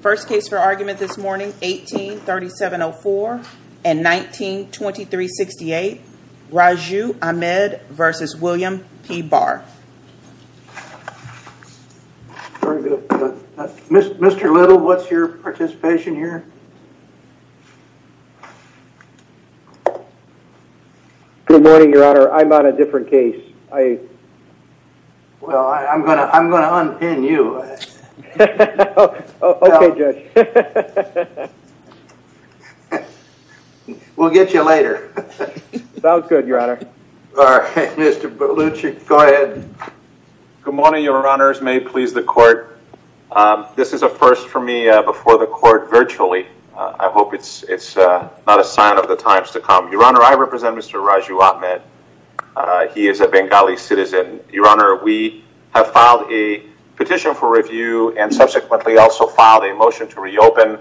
First case for argument this morning 18-3704 and 19-2368 Raju Ahmed v. William P. Barr Mr. Little, what's your participation here? Good morning, your honor. I'm on a different case. Well, I'm going to unpin you. We'll get you later. Sounds good, your honor. Mr. Baluchi, go ahead. Good morning, your honors. May it please the court. This is a first for me before the court virtually. I hope it's not a sign of the times to come. Your honor, I represent Mr. Raju Ahmed. He is a Bengali citizen. Your honor, we have filed a petition for review and subsequently also filed a motion to reopen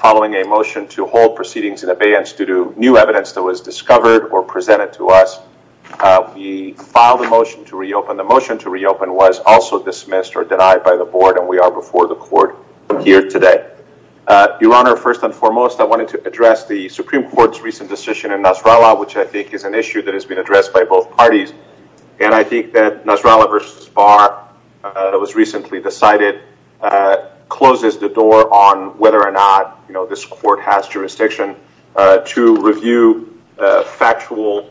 following a motion to hold proceedings in abeyance due to new evidence that was discovered or presented to us. We filed a motion to reopen. The motion to reopen was also dismissed or denied by the board and we are before the court here today. Your honor, first and foremost, I wanted to address the Supreme Court's recent decision which I think is an issue that has been addressed by both parties. I think that Nasrallah v. Barr, that was recently decided, closes the door on whether or not this court has jurisdiction to review factual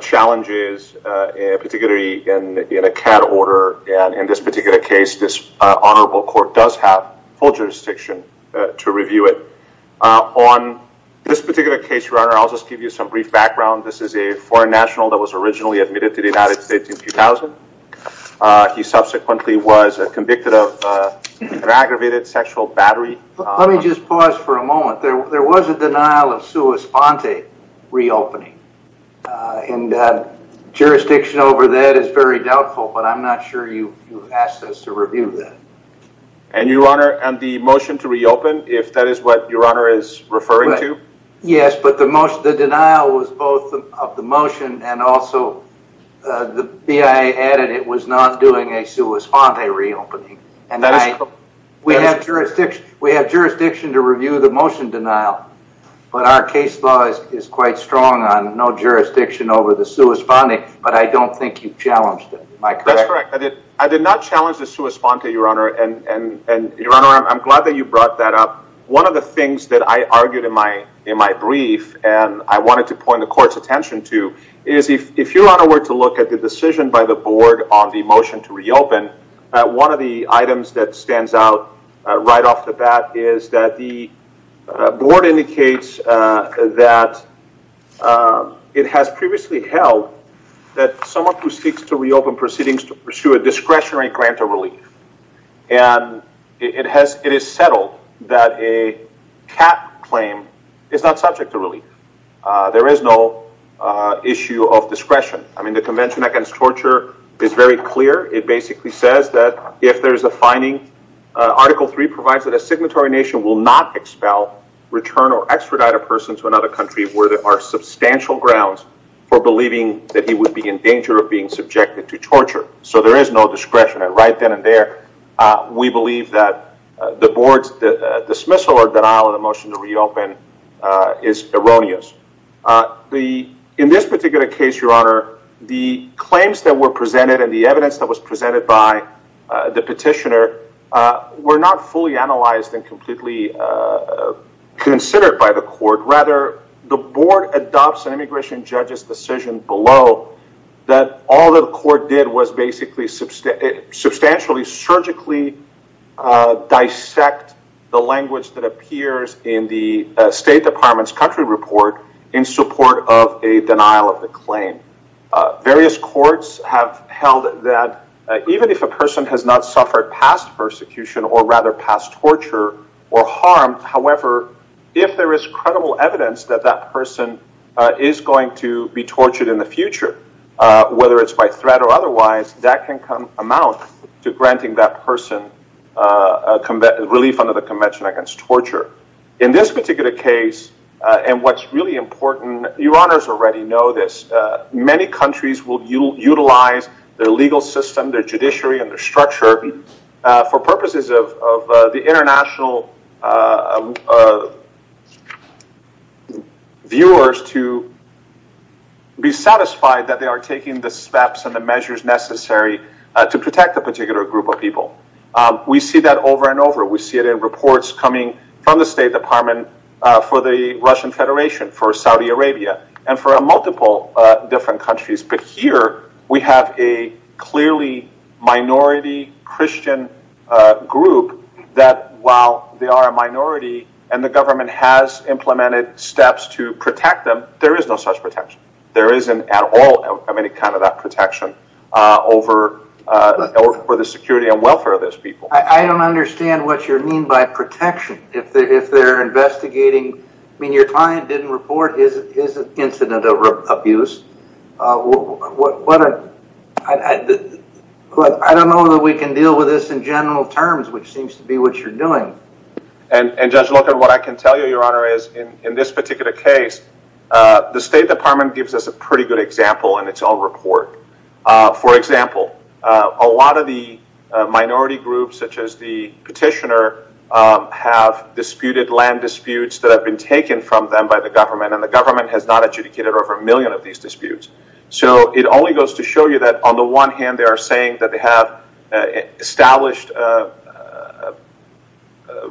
challenges, particularly in a CAD order. In this particular case, this honorable court does have full jurisdiction to review it. On this particular case, your honor, I'll just give you some brief background. This is a foreign national that was originally admitted to the United States in 2000. He subsequently was convicted of an aggravated sexual battery. Let me just pause for a moment. There was a denial of sua sponte reopening and jurisdiction over that is very doubtful, but I'm not sure you asked us to review that. Your honor, the motion to reopen, if that is what your honor is referring to? Yes, but the denial was both of the motion and also the BIA added it was not doing a sua sponte reopening. We have jurisdiction to review the motion denial, but our case law is quite strong on no jurisdiction over the sua sponte, but I don't think you challenged it. Am I correct? That's correct. I did not challenge the sua sponte, your honor, and your honor, I'm glad that you brought that up. One of the things that I argued in my brief and I wanted to point the court's attention to is if your honor were to look at the decision by the board on the motion to reopen, one of the items that stands out right off the bat is that the board indicates that it has previously held that someone who seeks to reopen proceedings to pursue a discretionary grant of relief, and it is settled that a cap claim is not subject to relief. There is no issue of discretion. I mean, the convention against torture is very clear. It basically says that if there's a finding, article three provides that a signatory nation will not expel, return, or extradite a person to another country where there are substantial grounds for believing that he would be in danger of being subjected to torture. So there is no discretion right then and there. We believe that the board's dismissal or denial of the motion to reopen is erroneous. In this particular case, your honor, the claims that were presented and the evidence that was considered by the court, rather, the board adopts an immigration judge's decision below that all that the court did was basically substantially surgically dissect the language that appears in the State Department's country report in support of a denial of the claim. Various courts have held that even if a person has not suffered past persecution or rather harm, however, if there is credible evidence that that person is going to be tortured in the future, whether it's by threat or otherwise, that can amount to granting that person relief under the convention against torture. In this particular case, and what's really important, your honors already know this, many countries will utilize their legal system, their judiciary, and their structure for purposes of the international viewers to be satisfied that they are taking the steps and the measures necessary to protect a particular group of people. We see that over and over. We see it in reports coming from the State Department for the Russian Federation, for Saudi Arabia, and for multiple different countries. Here, we have a clearly minority Christian group that while they are a minority and the government has implemented steps to protect them, there is no such protection. There isn't at all any kind of that protection over the security and welfare of those people. I don't understand what you mean by protection. If they are investigating, I mean, your client didn't report his incident of abuse. I don't know that we can deal with this in general terms, which seems to be what you are doing. Judge Locher, what I can tell you, your honor, is in this particular case, the State Department gives us a pretty good example in its own report. For example, a lot of the minority groups such as the petitioner have disputed land disputes that have been taken from them by the government, and the government has not adjudicated over a million of these disputes. So it only goes to show you that on the one hand, they are saying that they have established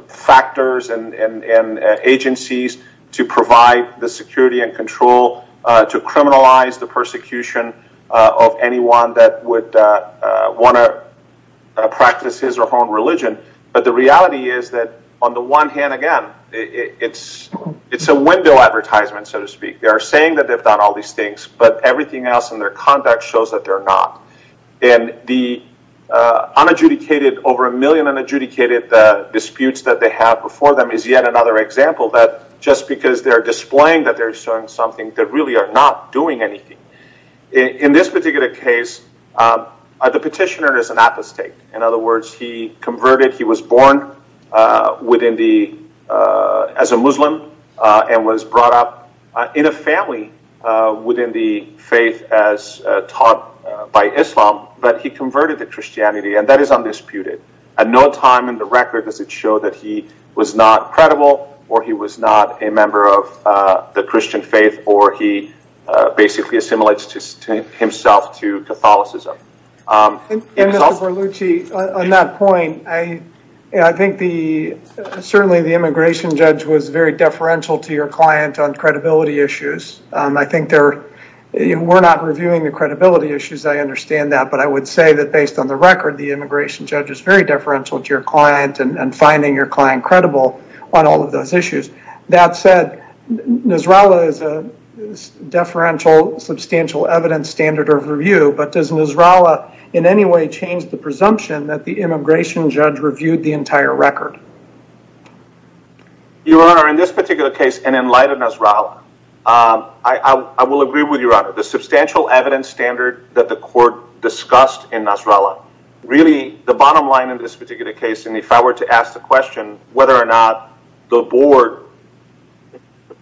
factors and agencies to provide the security and control to criminalize the persecution of anyone that would want to practice his or her own religion, but the reality is that on the one hand, again, it's a window advertisement, so to speak. They are saying that they have done all these things, but everything else in their conduct shows that they are not. And the unadjudicated, over a million unadjudicated disputes that they have before them is yet another example that just because they are displaying that they are showing something, they really are not doing anything. In this particular case, the petitioner is an apostate. In other words, he converted. He was born as a Muslim and was brought up in a family within the faith as taught by Islam, but he converted to Christianity, and that is undisputed. At no time in the record does it show that he was not credible or he was not a member of the Christian faith or he basically assimilates himself to Catholicism. Mr. Berlucci, on that point, I think certainly the immigration judge was very deferential to your client on credibility issues. I think we are not reviewing the credibility issues. I understand that, but I would say that based on the record, the immigration judge is very deferential to your client and finding your client credible on all of those issues. That said, Nasrallah is a deferential substantial evidence standard of review, but does Nasrallah in any way change the presumption that the immigration judge reviewed the entire record? Your Honor, in this particular case and in light of Nasrallah, I will agree with Your Honor. The substantial evidence standard that the court discussed in Nasrallah, really the bottom line in this particular case, and if I were to ask the question whether or not the board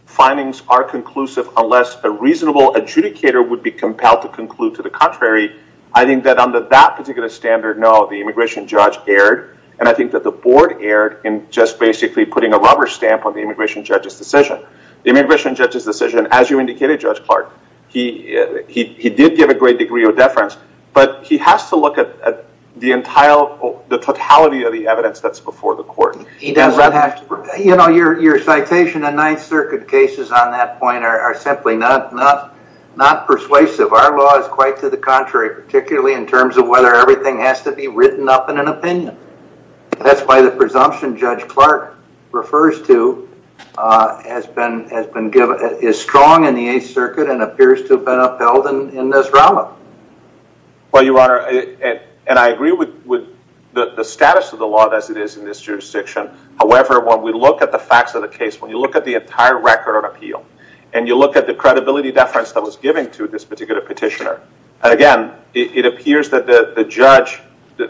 findings are conclusive unless a reasonable adjudicator would be compelled to conclude to the contrary, I think that under that particular standard, no, the immigration judge erred, and I think that the board erred in just basically putting a rubber stamp on the immigration judge's decision. The immigration judge's decision, as you indicated, Judge Clark, he did give a great degree of totality of the evidence that's before the court. You know, your citation in Ninth Circuit cases on that point are simply not persuasive. Our law is quite to the contrary, particularly in terms of whether everything has to be written up in an opinion. That's why the presumption Judge Clark refers to is strong in the Eighth Circuit and appears to have been upheld in Nasrallah. Well, Your Honor, and I agree with the status of the law as it is in this jurisdiction. However, when we look at the facts of the case, when you look at the entire record of appeal, and you look at the credibility deference that was given to this particular petitioner, and again, it appears that the judge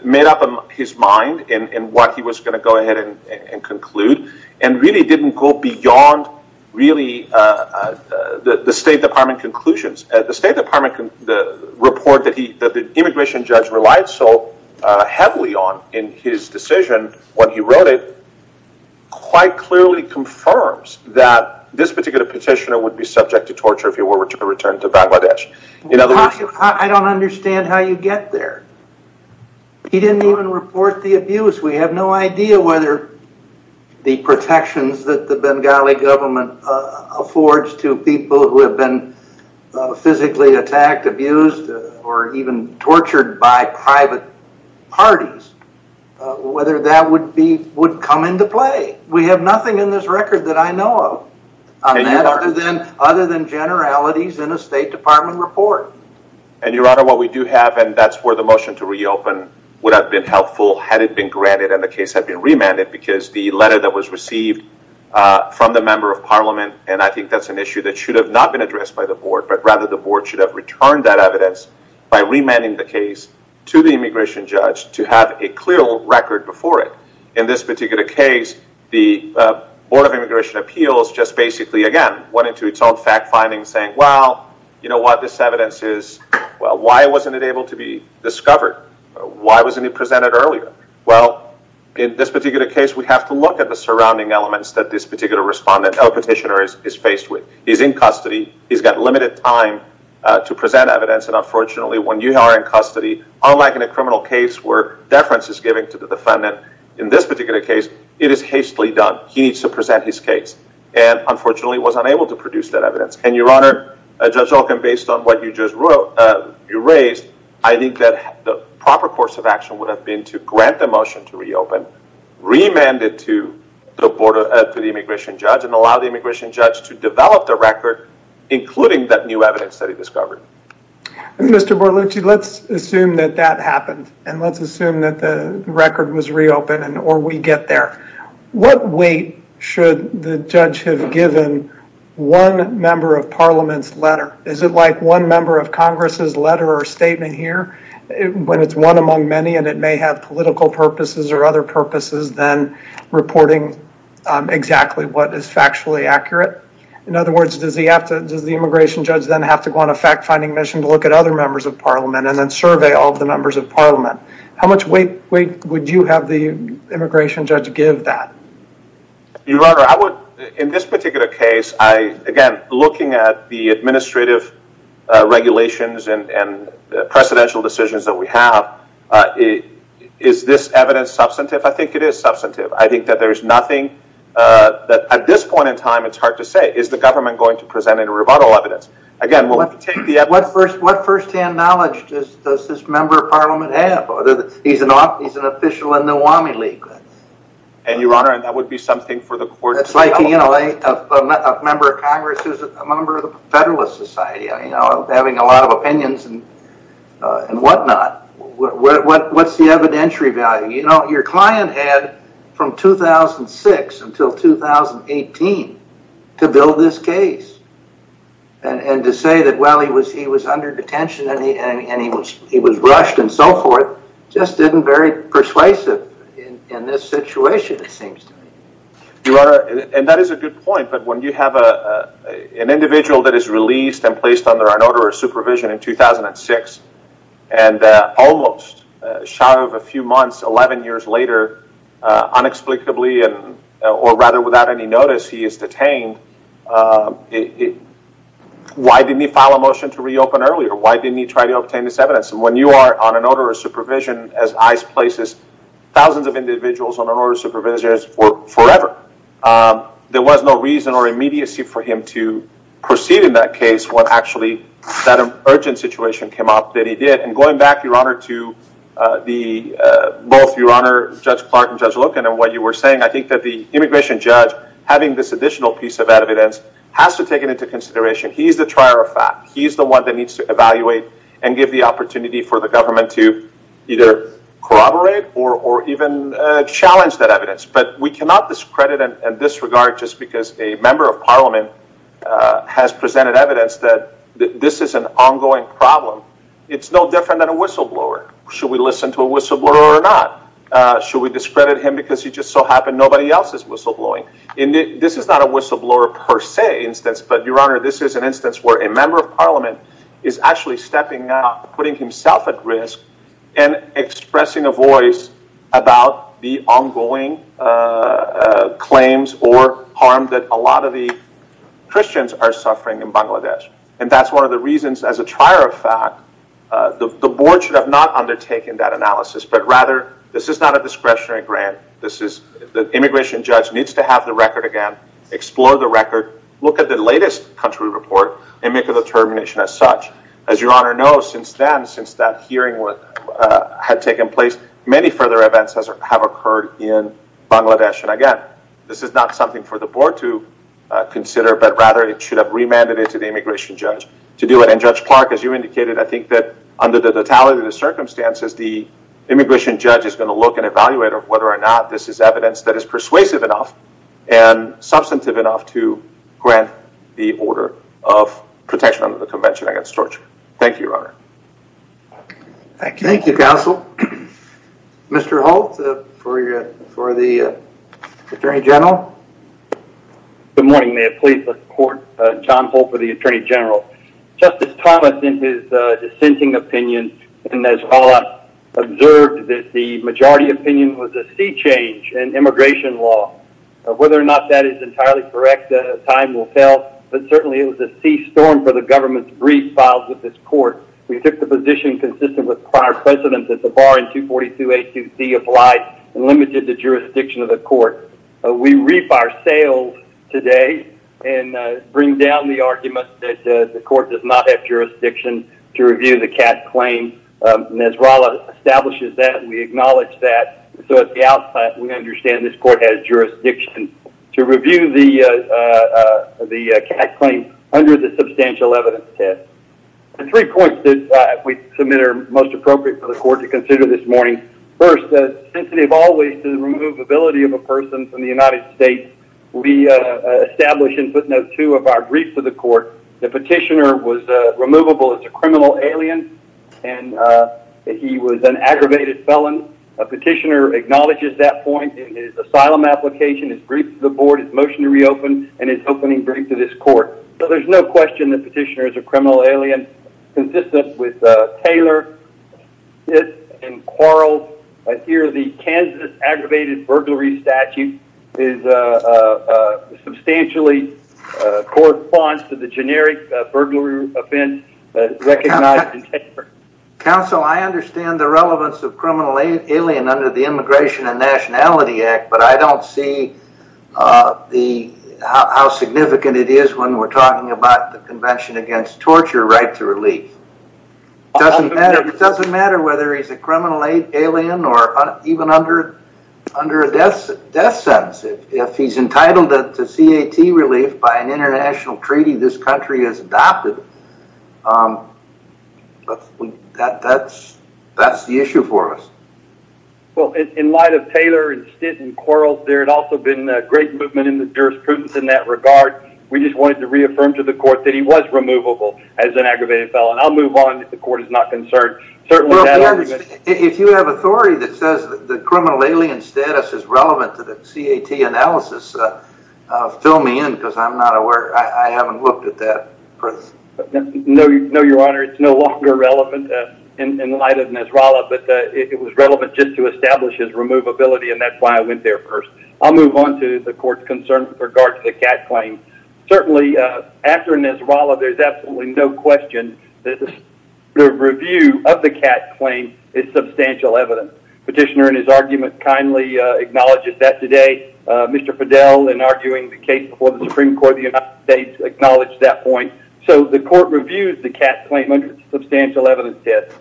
made up his mind in what he was going to go ahead and conclude and really didn't go beyond really the State Department conclusions. The State Department report that the immigration judge relied so heavily on in his decision when he wrote it quite clearly confirms that this particular petitioner would be subject to torture if he were to return to Bangladesh. I don't understand how you get there. He didn't even report the abuse. We have no idea whether the protections that the Bengali government affords to people who have been physically attacked, abused, or even tortured by private parties, whether that would come into play. We have nothing in this record that I know of on that other than generalities in a State Department report. Your Honor, what we do have, and that's where the motion to reopen would have been helpful had it been granted and the case had been remanded because the letter that was received from the Member of Parliament, and I think that's an issue that should have not been addressed by the Board, but rather the Board should have returned that evidence by remanding the case to the immigration judge to have a clear record before it. In this particular case, the Board of Immigration Appeals just basically, again, went into its own fact finding saying, well, you know what, this evidence is, well, why wasn't it able to be discovered? Why wasn't it presented earlier? Well, in this particular case, we have to look at the surrounding elements that this particular respondent or petitioner is faced with. He's in custody. He's got limited time to present evidence, and unfortunately, when you are in custody, unlike in a criminal case where deference is given to the defendant, in this particular case, it is hastily done. He needs to present his case and unfortunately was unable to produce that evidence. And Your Honor, Judge Olken, based on what you just raised, I think that the proper course of action would have been to grant the motion to reopen, remand it to the immigration judge, and allow the immigration judge to develop the record, including that new evidence that he discovered. Mr. Borlucci, let's assume that that happened, and let's assume that the record was reopened and or we get there. What weight should the judge have given one member of Parliament's letter? Is it like one member of Congress's letter or statement here when it's one among many and it may have political purposes or other purposes than reporting exactly what is factually accurate? In other words, does the immigration judge then have to go on a fact-finding mission to look at other members of Parliament and then survey all the members of Parliament? How much weight would you have the immigration judge give that? Your Honor, in this particular case, again, looking at the administrative regulations and the precedential decisions that we have, is this evidence substantive? I think it is substantive. I think that there is nothing that at this point in time, it's hard to say. Is the government going to present any rebuttal evidence? Again, we'll have to take the evidence. What first-hand knowledge does this member of Parliament have? He's an official in the Uami League. Your Honor, that would be something for the court to... It's like a member of Congress who's a member of the Federalist Society, having a lot of opinions and whatnot. What's the evidentiary value? Your client had from 2006 until 2018 to build this case. To say that, well, he was under detention and he was rushed and so forth just isn't persuasive in this situation, it seems to me. And that is a good point, but when you have an individual that is released and placed under an order of supervision in 2006, and almost, a shadow of a few months, 11 years later, unexplicably or rather without any notice, he is detained, why didn't he file a motion to reopen earlier? Why didn't he try to obtain this evidence? And when you are on an order of supervision, as ICE places thousands of individuals on an order of supervision forever, there was no reason or immediacy for him to proceed in that case when actually that urgent situation came up that he did. And going back, Your Honor, to both Your Honor, Judge Clark and Judge Loken and what you were saying, I think that the immigration judge, having this additional piece of evidence, has to take it into consideration. He's the trier of fact. He's the one that needs to evaluate and give the opportunity for the government to either corroborate or even challenge that evidence. But we cannot discredit and disregard just because a member of parliament has presented evidence that this is an ongoing problem. It's no different than a whistleblower. Should we listen to a whistleblower or not? Should we discredit him because he just so happened nobody else is whistleblowing? This is not a whistleblower per se instance, but Your Honor, this is an instance where a member of parliament is actually stepping up, putting himself at risk, and expressing a voice about the ongoing claims or harm that a lot of the Christians are suffering in Bangladesh. And that's one of the reasons, as a trier of fact, the board should have not undertaken that analysis. But rather, this is not a discretionary grant. The immigration judge needs to have the record again, explore the record, look at the latest country report, and make a determination as such. As Your Honor knows, since then, since that hearing had taken place, many further events have occurred in Bangladesh. And again, this is not something for the board to consider. But rather, it should have remanded it to the immigration judge to do it. And Judge Clark, as you indicated, I think that under the totality of the circumstances, the immigration judge is going to look and evaluate whether or not this is evidence that grant the order of protection under the Convention Against Torture. Thank you, Your Honor. Thank you, counsel. Mr. Holt, for the attorney general. Good morning. May it please the court, John Holt for the attorney general. Justice Thomas, in his dissenting opinion, observed that the majority opinion was a sea change in immigration law. Whether or not that is entirely correct, time will tell. But certainly, it was a sea storm for the government to brief files with this court. We took the position consistent with prior precedents at the bar in 242A2C of life and limited the jurisdiction of the court. We reap our sales today and bring down the argument that the court does not have jurisdiction to review the Catt claim. And as Rolla establishes that, we acknowledge that. So at the outset, we understand this court has jurisdiction to review the Catt claim under the substantial evidence test. The three points that we submit are most appropriate for the court to consider this morning. First, sensitive always to the removability of a person from the United States. We establish in footnote two of our briefs to the court. The petitioner was removable as a criminal alien. And he was an aggravated felon. A petitioner acknowledges that point in his asylum application, his brief to the board, his motion to reopen, and his opening brief to this court. So there's no question the petitioner is a criminal alien. Consistent with Taylor, Smith, and Quarles, I hear the Kansas aggravated burglary statute is substantially corresponds to the generic burglary offense recognized in Taylor. Counsel, I understand the relevance of criminal alien under the Immigration and Nationality Act, but I don't see how significant it is when we're talking about the Convention against Torture right to relief. It doesn't matter whether he's a criminal alien or even under a death sentence. If he's entitled to C.A.T. relief by an international treaty this country has adopted, that's the issue for us. Well, in light of Taylor and Smith and Quarles, there had also been a great movement in the jurisprudence in that regard. We just wanted to reaffirm to the court that he was removable as an aggravated felon. I'll move on if the court is not concerned. If you have authority that says the criminal alien status is relevant to the C.A.T. analysis, fill me in because I'm not aware. I haven't looked at that. No, Your Honor. It's no longer relevant in light of Nasrallah, but it was relevant just to establish his removability and that's why I went there first. I'll move on to the court's concern with regard to the C.A.T. claim. Certainly, after Nasrallah, there's absolutely no question that the review of the C.A.T. claim is substantial evidence. Petitioner in his argument kindly acknowledges that today. Mr. Fidel, in arguing the case before the Supreme Court of the United States, acknowledged that point. So, the court reviews the C.A.T. claim under substantial evidence test.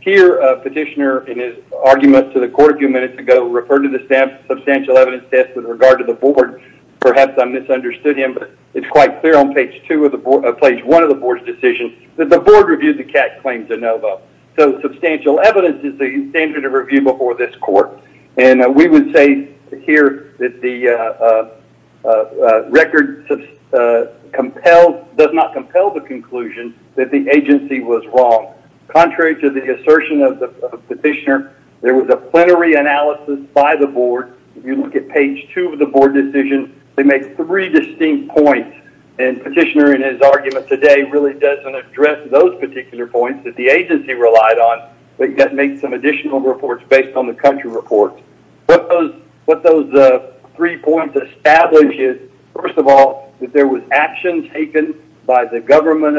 Here, Petitioner, in his argument to the court a few minutes ago, referred to the substantial evidence test with regard to the board. Perhaps I misunderstood him, but it's quite clear on page one of the board's decision that the board reviewed the C.A.T. claim de novo. So, substantial evidence is the standard of review before this court. We would say here that the record does not compel the conclusion that the agency was wrong. Contrary to the assertion of Petitioner, there was a plenary analysis by the board. If you look at page two of the board decision, they make three distinct points and Petitioner in his argument today really doesn't address those particular points that the agency relied on. They just make some additional reports based on the country report. What those three points establish is, first of all, that there was action taken by the government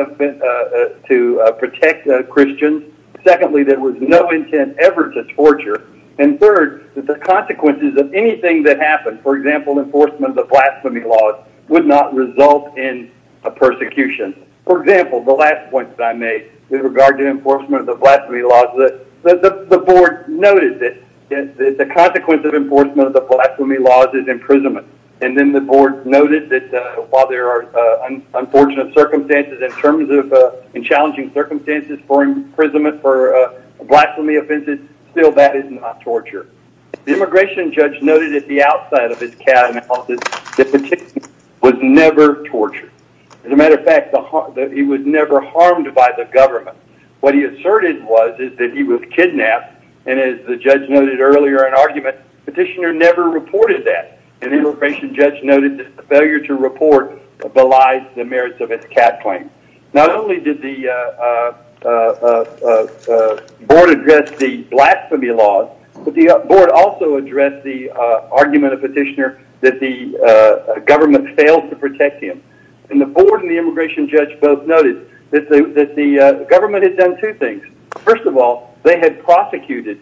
to protect Christians. Secondly, there was no intent ever to torture. And third, that the consequences of anything that happened, for example, enforcement of the blasphemy laws, would not result in a persecution. For example, the last point that I made with regard to enforcement of the blasphemy laws, the board noted that the consequence of enforcement of the blasphemy laws is imprisonment. And then the board noted that while there are unfortunate circumstances in terms of challenging circumstances for imprisonment for blasphemy offenses, still that is not torture. The immigration judge noted at the outside of his C.A.T. analysis that Petitioner was never tortured. As a matter of fact, he was never harmed by the government. What he asserted was that he was kidnapped. And as the judge noted earlier in argument, Petitioner never reported that. And the immigration judge noted that the failure to report belies the merits of his C.A.T. claim. Not only did the board address the blasphemy laws, but the board also addressed the argument of Petitioner that the government failed to protect him. And the board and the immigration judge both noted that the government had done two things. First of all, they had prosecuted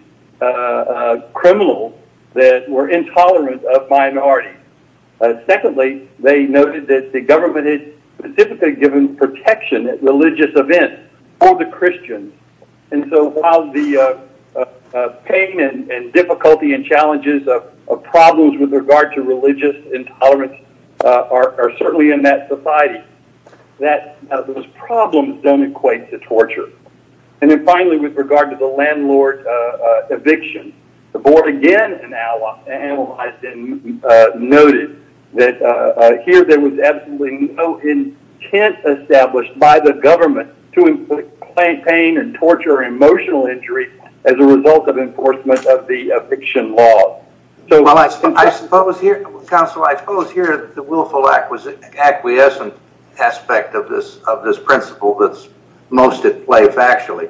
criminals that were intolerant of minorities. Secondly, they noted that the government had specifically given protection at religious events for the Christians. And so while the pain and difficulty and challenges of problems with regard to religious intolerance are certainly in that society, those problems don't equate to torture. And then finally, with regard to the landlord eviction, the board again analyzed and noted that here there was absolutely no intent established by the government to inflict pain and torture or emotional injury as a result of enforcement of the eviction law. Well, I suppose here, counsel, I suppose here the willful acquiescent aspect of this principle that's most at play factually.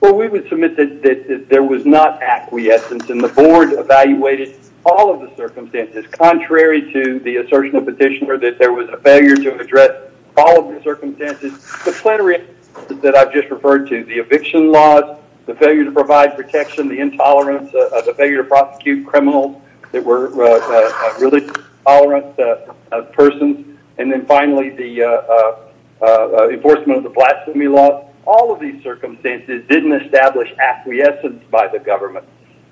Well, we would submit that there was not acquiescence and the board evaluated all of the circumstances contrary to the assertion of Petitioner that there was a failure to address all of the circumstances. The plenary that I've just referred to, the eviction laws, the failure to provide protection, the intolerance, the failure to prosecute criminals that were really tolerant of persons. And then finally, the enforcement of the blasphemy law. All of these circumstances didn't establish acquiescence by the government.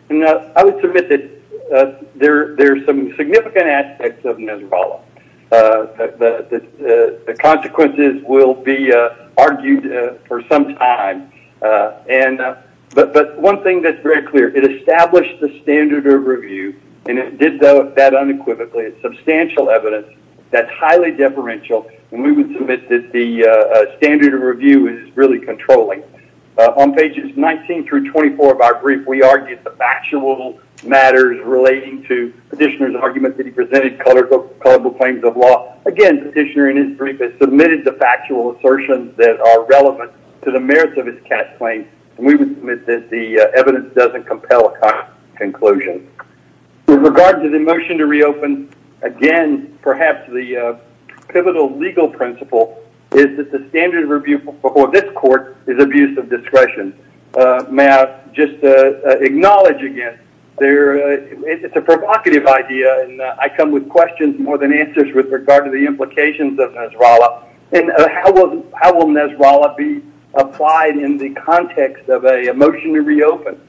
And I would submit that there are some significant aspects of Nezerbala. The consequences will be argued for some time. And but one thing that's very clear, it established the standard of review. And it did that unequivocally. It's substantial evidence that's highly deferential. And we would submit that the standard of review is really controlling. On pages 19 through 24 of our brief, we argued the factual matters relating to Petitioner's argument that he presented culpable claims of law. Again, Petitioner in his brief has submitted the factual assertions that are relevant to the merits of his cast claim. And we would submit that the evidence doesn't compel a conclusion. With regard to the motion to reopen, again, perhaps the pivotal legal principle is that the standard of review before this court is abuse of discretion. May I just acknowledge again, it's a provocative idea. And I come with questions more than answers with regard to the implications of Nezerbala. And how will Nezerbala be applied in the context of a motion to reopen?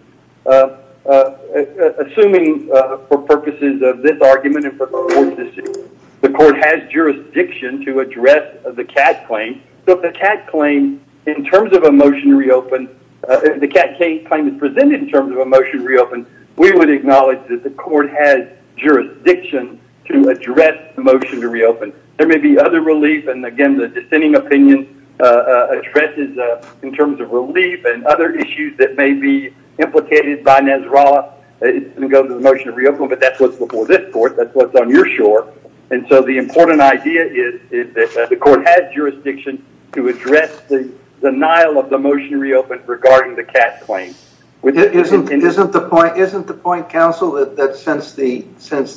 Assuming for purposes of this argument and for the court's decision, the court has jurisdiction to address the cast claim. So if the cast claim, in terms of a motion to reopen, if the cast claim is presented in terms of a motion to reopen, we would acknowledge that the court has jurisdiction to address the motion to reopen. There may be other relief. And again, the dissenting opinion addresses in terms of relief and other issues that may be implicated by Nezerbala. It's going to go to the motion to reopen, but that's what's before this court. That's what's on your shore. And so the important idea is that the court has jurisdiction to address the denial of the motion to reopen regarding the cast claim. Isn't the point, counsel, that since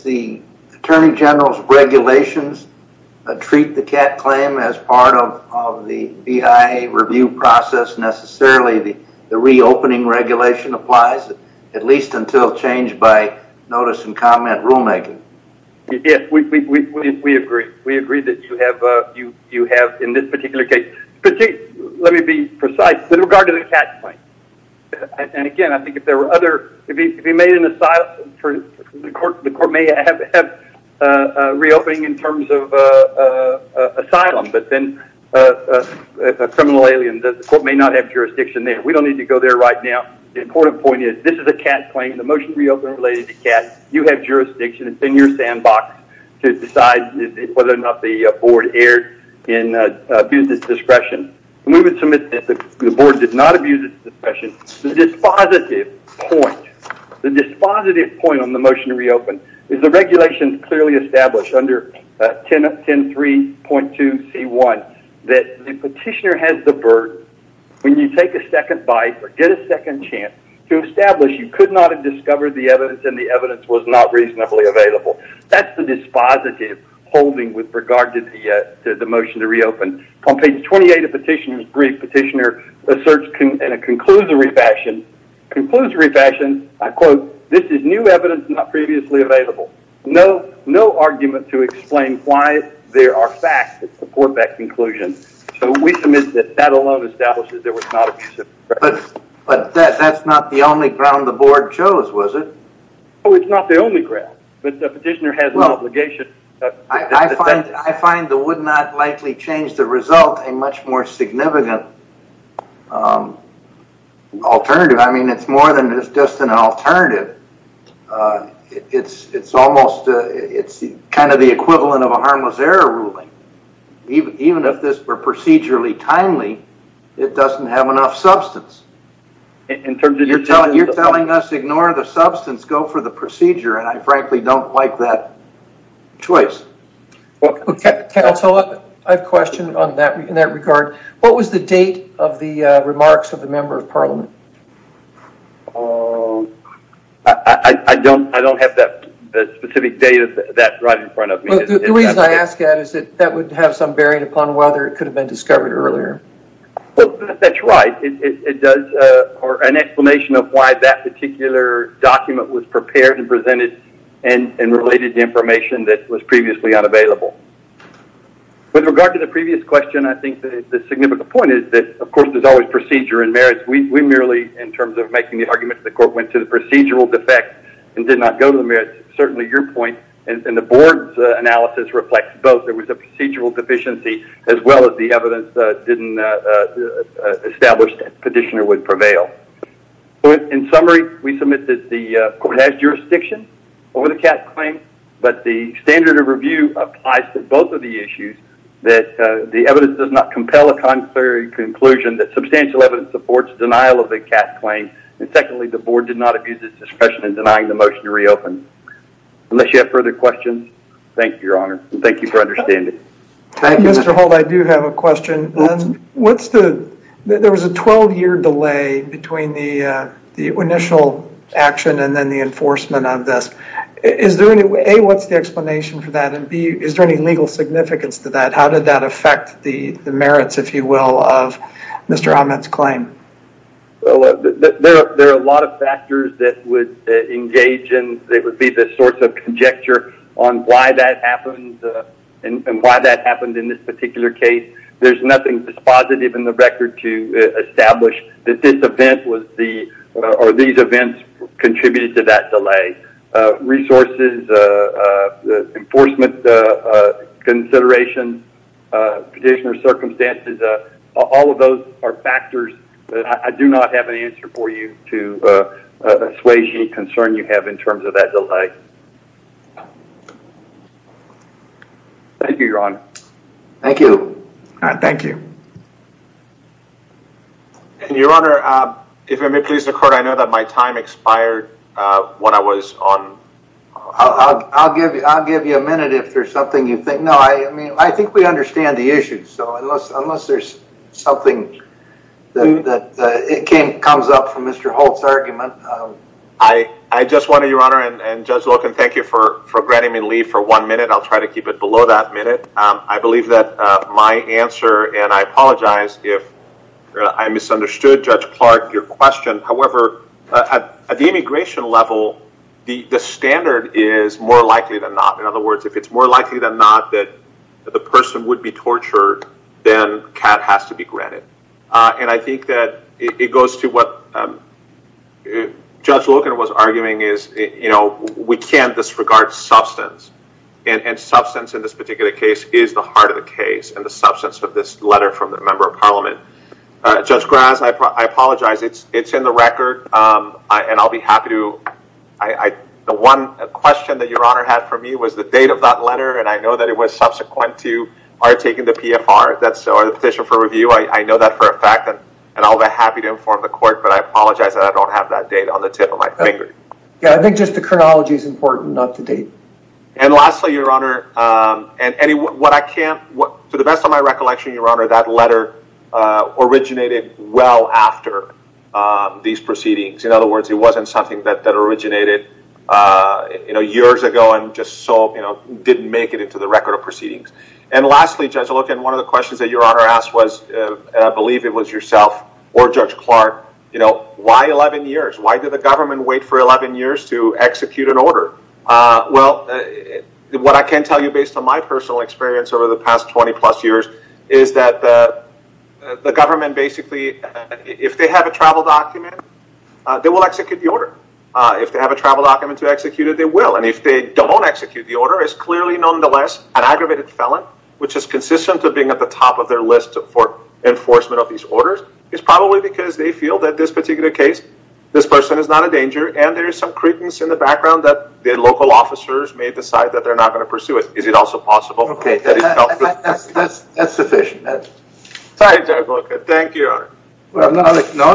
the Attorney General's regulations treat the cast claim as part of the BIA review process necessarily, the reopening regulation applies, at least until changed by notice and comment rulemaking? Yes, we agree. We agree that you have, in this particular case. Let me be precise. With regard to the cast claim, and again, I think if there were other, if he made an asylum, the court may have a reopening in terms of asylum, but then a criminal alien, the court may not have jurisdiction there. We don't need to go there right now. The important point is this is a cast claim. The motion to reopen is related to cast. You have jurisdiction. It's in your sandbox to decide whether or not the board erred in abuse of discretion. We would submit that the board did not abuse of discretion. The dispositive point, the dispositive point on the motion to reopen is the regulations clearly established under 10.3.2C1 that the petitioner has the burden when you take a second bite or get a second chance to establish you could not have discovered the evidence and the evidence was not reasonably available. That's the dispositive holding with regard to the motion to reopen. On page 28 of the petitioner's brief, the petitioner asserts in a conclusory fashion, this is new evidence not previously available. No argument to explain why there are facts that support that conclusion. We submit that that alone establishes there was not abuse of discretion. But that's not the only ground the board chose, was it? It's not the only ground, but the petitioner has an obligation. I find the would not likely change the result a much more significant alternative. I mean, it's more than just an alternative. It's almost, it's kind of the equivalent of a harmless error ruling. Even if this were procedurally timely, it doesn't have enough substance. You're telling us ignore the substance, go for the procedure. I frankly don't like that choice. Counselor, I have a question in that regard. What was the date of the remarks of the member of parliament? I don't have that specific date of that right in front of me. The reason I ask that is that that would have some bearing upon whether it could have been discovered earlier. That's right. It does, or an explanation of why that particular document was prepared and presented and related to information that was previously unavailable. With regard to the previous question, I think the significant point is that, of course, there's always procedure and merits. We merely, in terms of making the argument that the court went to the procedural defect and did not go to the merits, certainly your point and the board's analysis reflects both. There was a procedural deficiency as well as the evidence that didn't establish that petitioner would prevail. In summary, we submit that the court has jurisdiction over the Cass claim, but the standard of review applies to both of the issues that the evidence does not compel a conclusive conclusion that substantial evidence supports denial of the Cass claim. Secondly, the board did not abuse its discretion in denying the motion to reopen. Unless you have further questions, thank you, your honor. Thank you for understanding. Mr. Holt, I do have a question. There was a 12-year delay between the initial action and then the enforcement of this. A, what's the explanation for that? And B, is there any legal significance to that? How did that affect the merits, if you will, of Mr. Ahmed's claim? There are a lot of factors that would engage and it would be the sorts of conjecture on why that happened and why that happened in this particular case. There's nothing dispositive in the record to establish that this event or these events contributed to that delay. Resources, enforcement consideration, petitioner circumstances, all of those are factors that I do not have an answer for you to assuage any concern you have in terms of that delay. Thank you, your honor. Thank you. Thank you. Your honor, if I may please the court, I know that my time expired when I was on. I'll give you a minute if there's something you think. No, I mean, I think we understand the issue. So unless there's something that comes up from Mr. Holt's argument. I just want to, your honor, and Judge Loken, thank you for granting me leave for one minute. I'll try to keep it below that minute. I believe that my answer, and I apologize if I misunderstood, Judge Clark, your question. However, at the immigration level, the standard is more likely than not. In other words, if it's more likely than not that the person would be tortured, then CAD has to be granted. And I think that it goes to what Judge Loken was arguing is, you know, we can't disregard substance and substance in this particular case is the heart of the case. And the substance of this letter from the member of parliament. Judge Graz, I apologize. It's in the record. And I'll be happy to. The one question that your honor had for me was the date of that letter. And I know that it was subsequent to our taking the PFR. That's the petition for review. I know that for a fact and I'll be happy to inform the court, but I apologize that I don't have that date on the tip of my finger. Yeah, I think just the chronology is important, not the date. And lastly, your honor, and Eddie, what I can't, to the best of my recollection, your honor, that letter originated well after these proceedings. In other words, it wasn't something that originated, you know, years ago and just so, you know, didn't make it into the record of proceedings. And lastly, Judge Loken, one of the questions that your honor asked was, I believe it was yourself or Judge Clark, you know, why 11 years? Why did the government wait for 11 years to execute an order? Well, what I can tell you based on my personal experience over the past 20 plus years is that the government basically, if they have a travel document, they will execute the order. If they have a travel document to execute it, they will. And if they don't execute, the order is clearly nonetheless an aggravated felon, which is consistent to being at the top of their list for enforcement of these orders. It's probably because they feel that this particular case, this person is not a danger. And there is some credence in the background that the local officers may decide that they're not going to pursue it. Is it also possible? Okay, that's sufficient. Sorry, Judge Loken. Thank you, your honor. Well, no,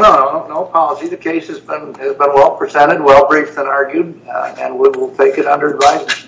no, no, no apology. The case has been well presented, well briefed and argued, and we will take it under advice.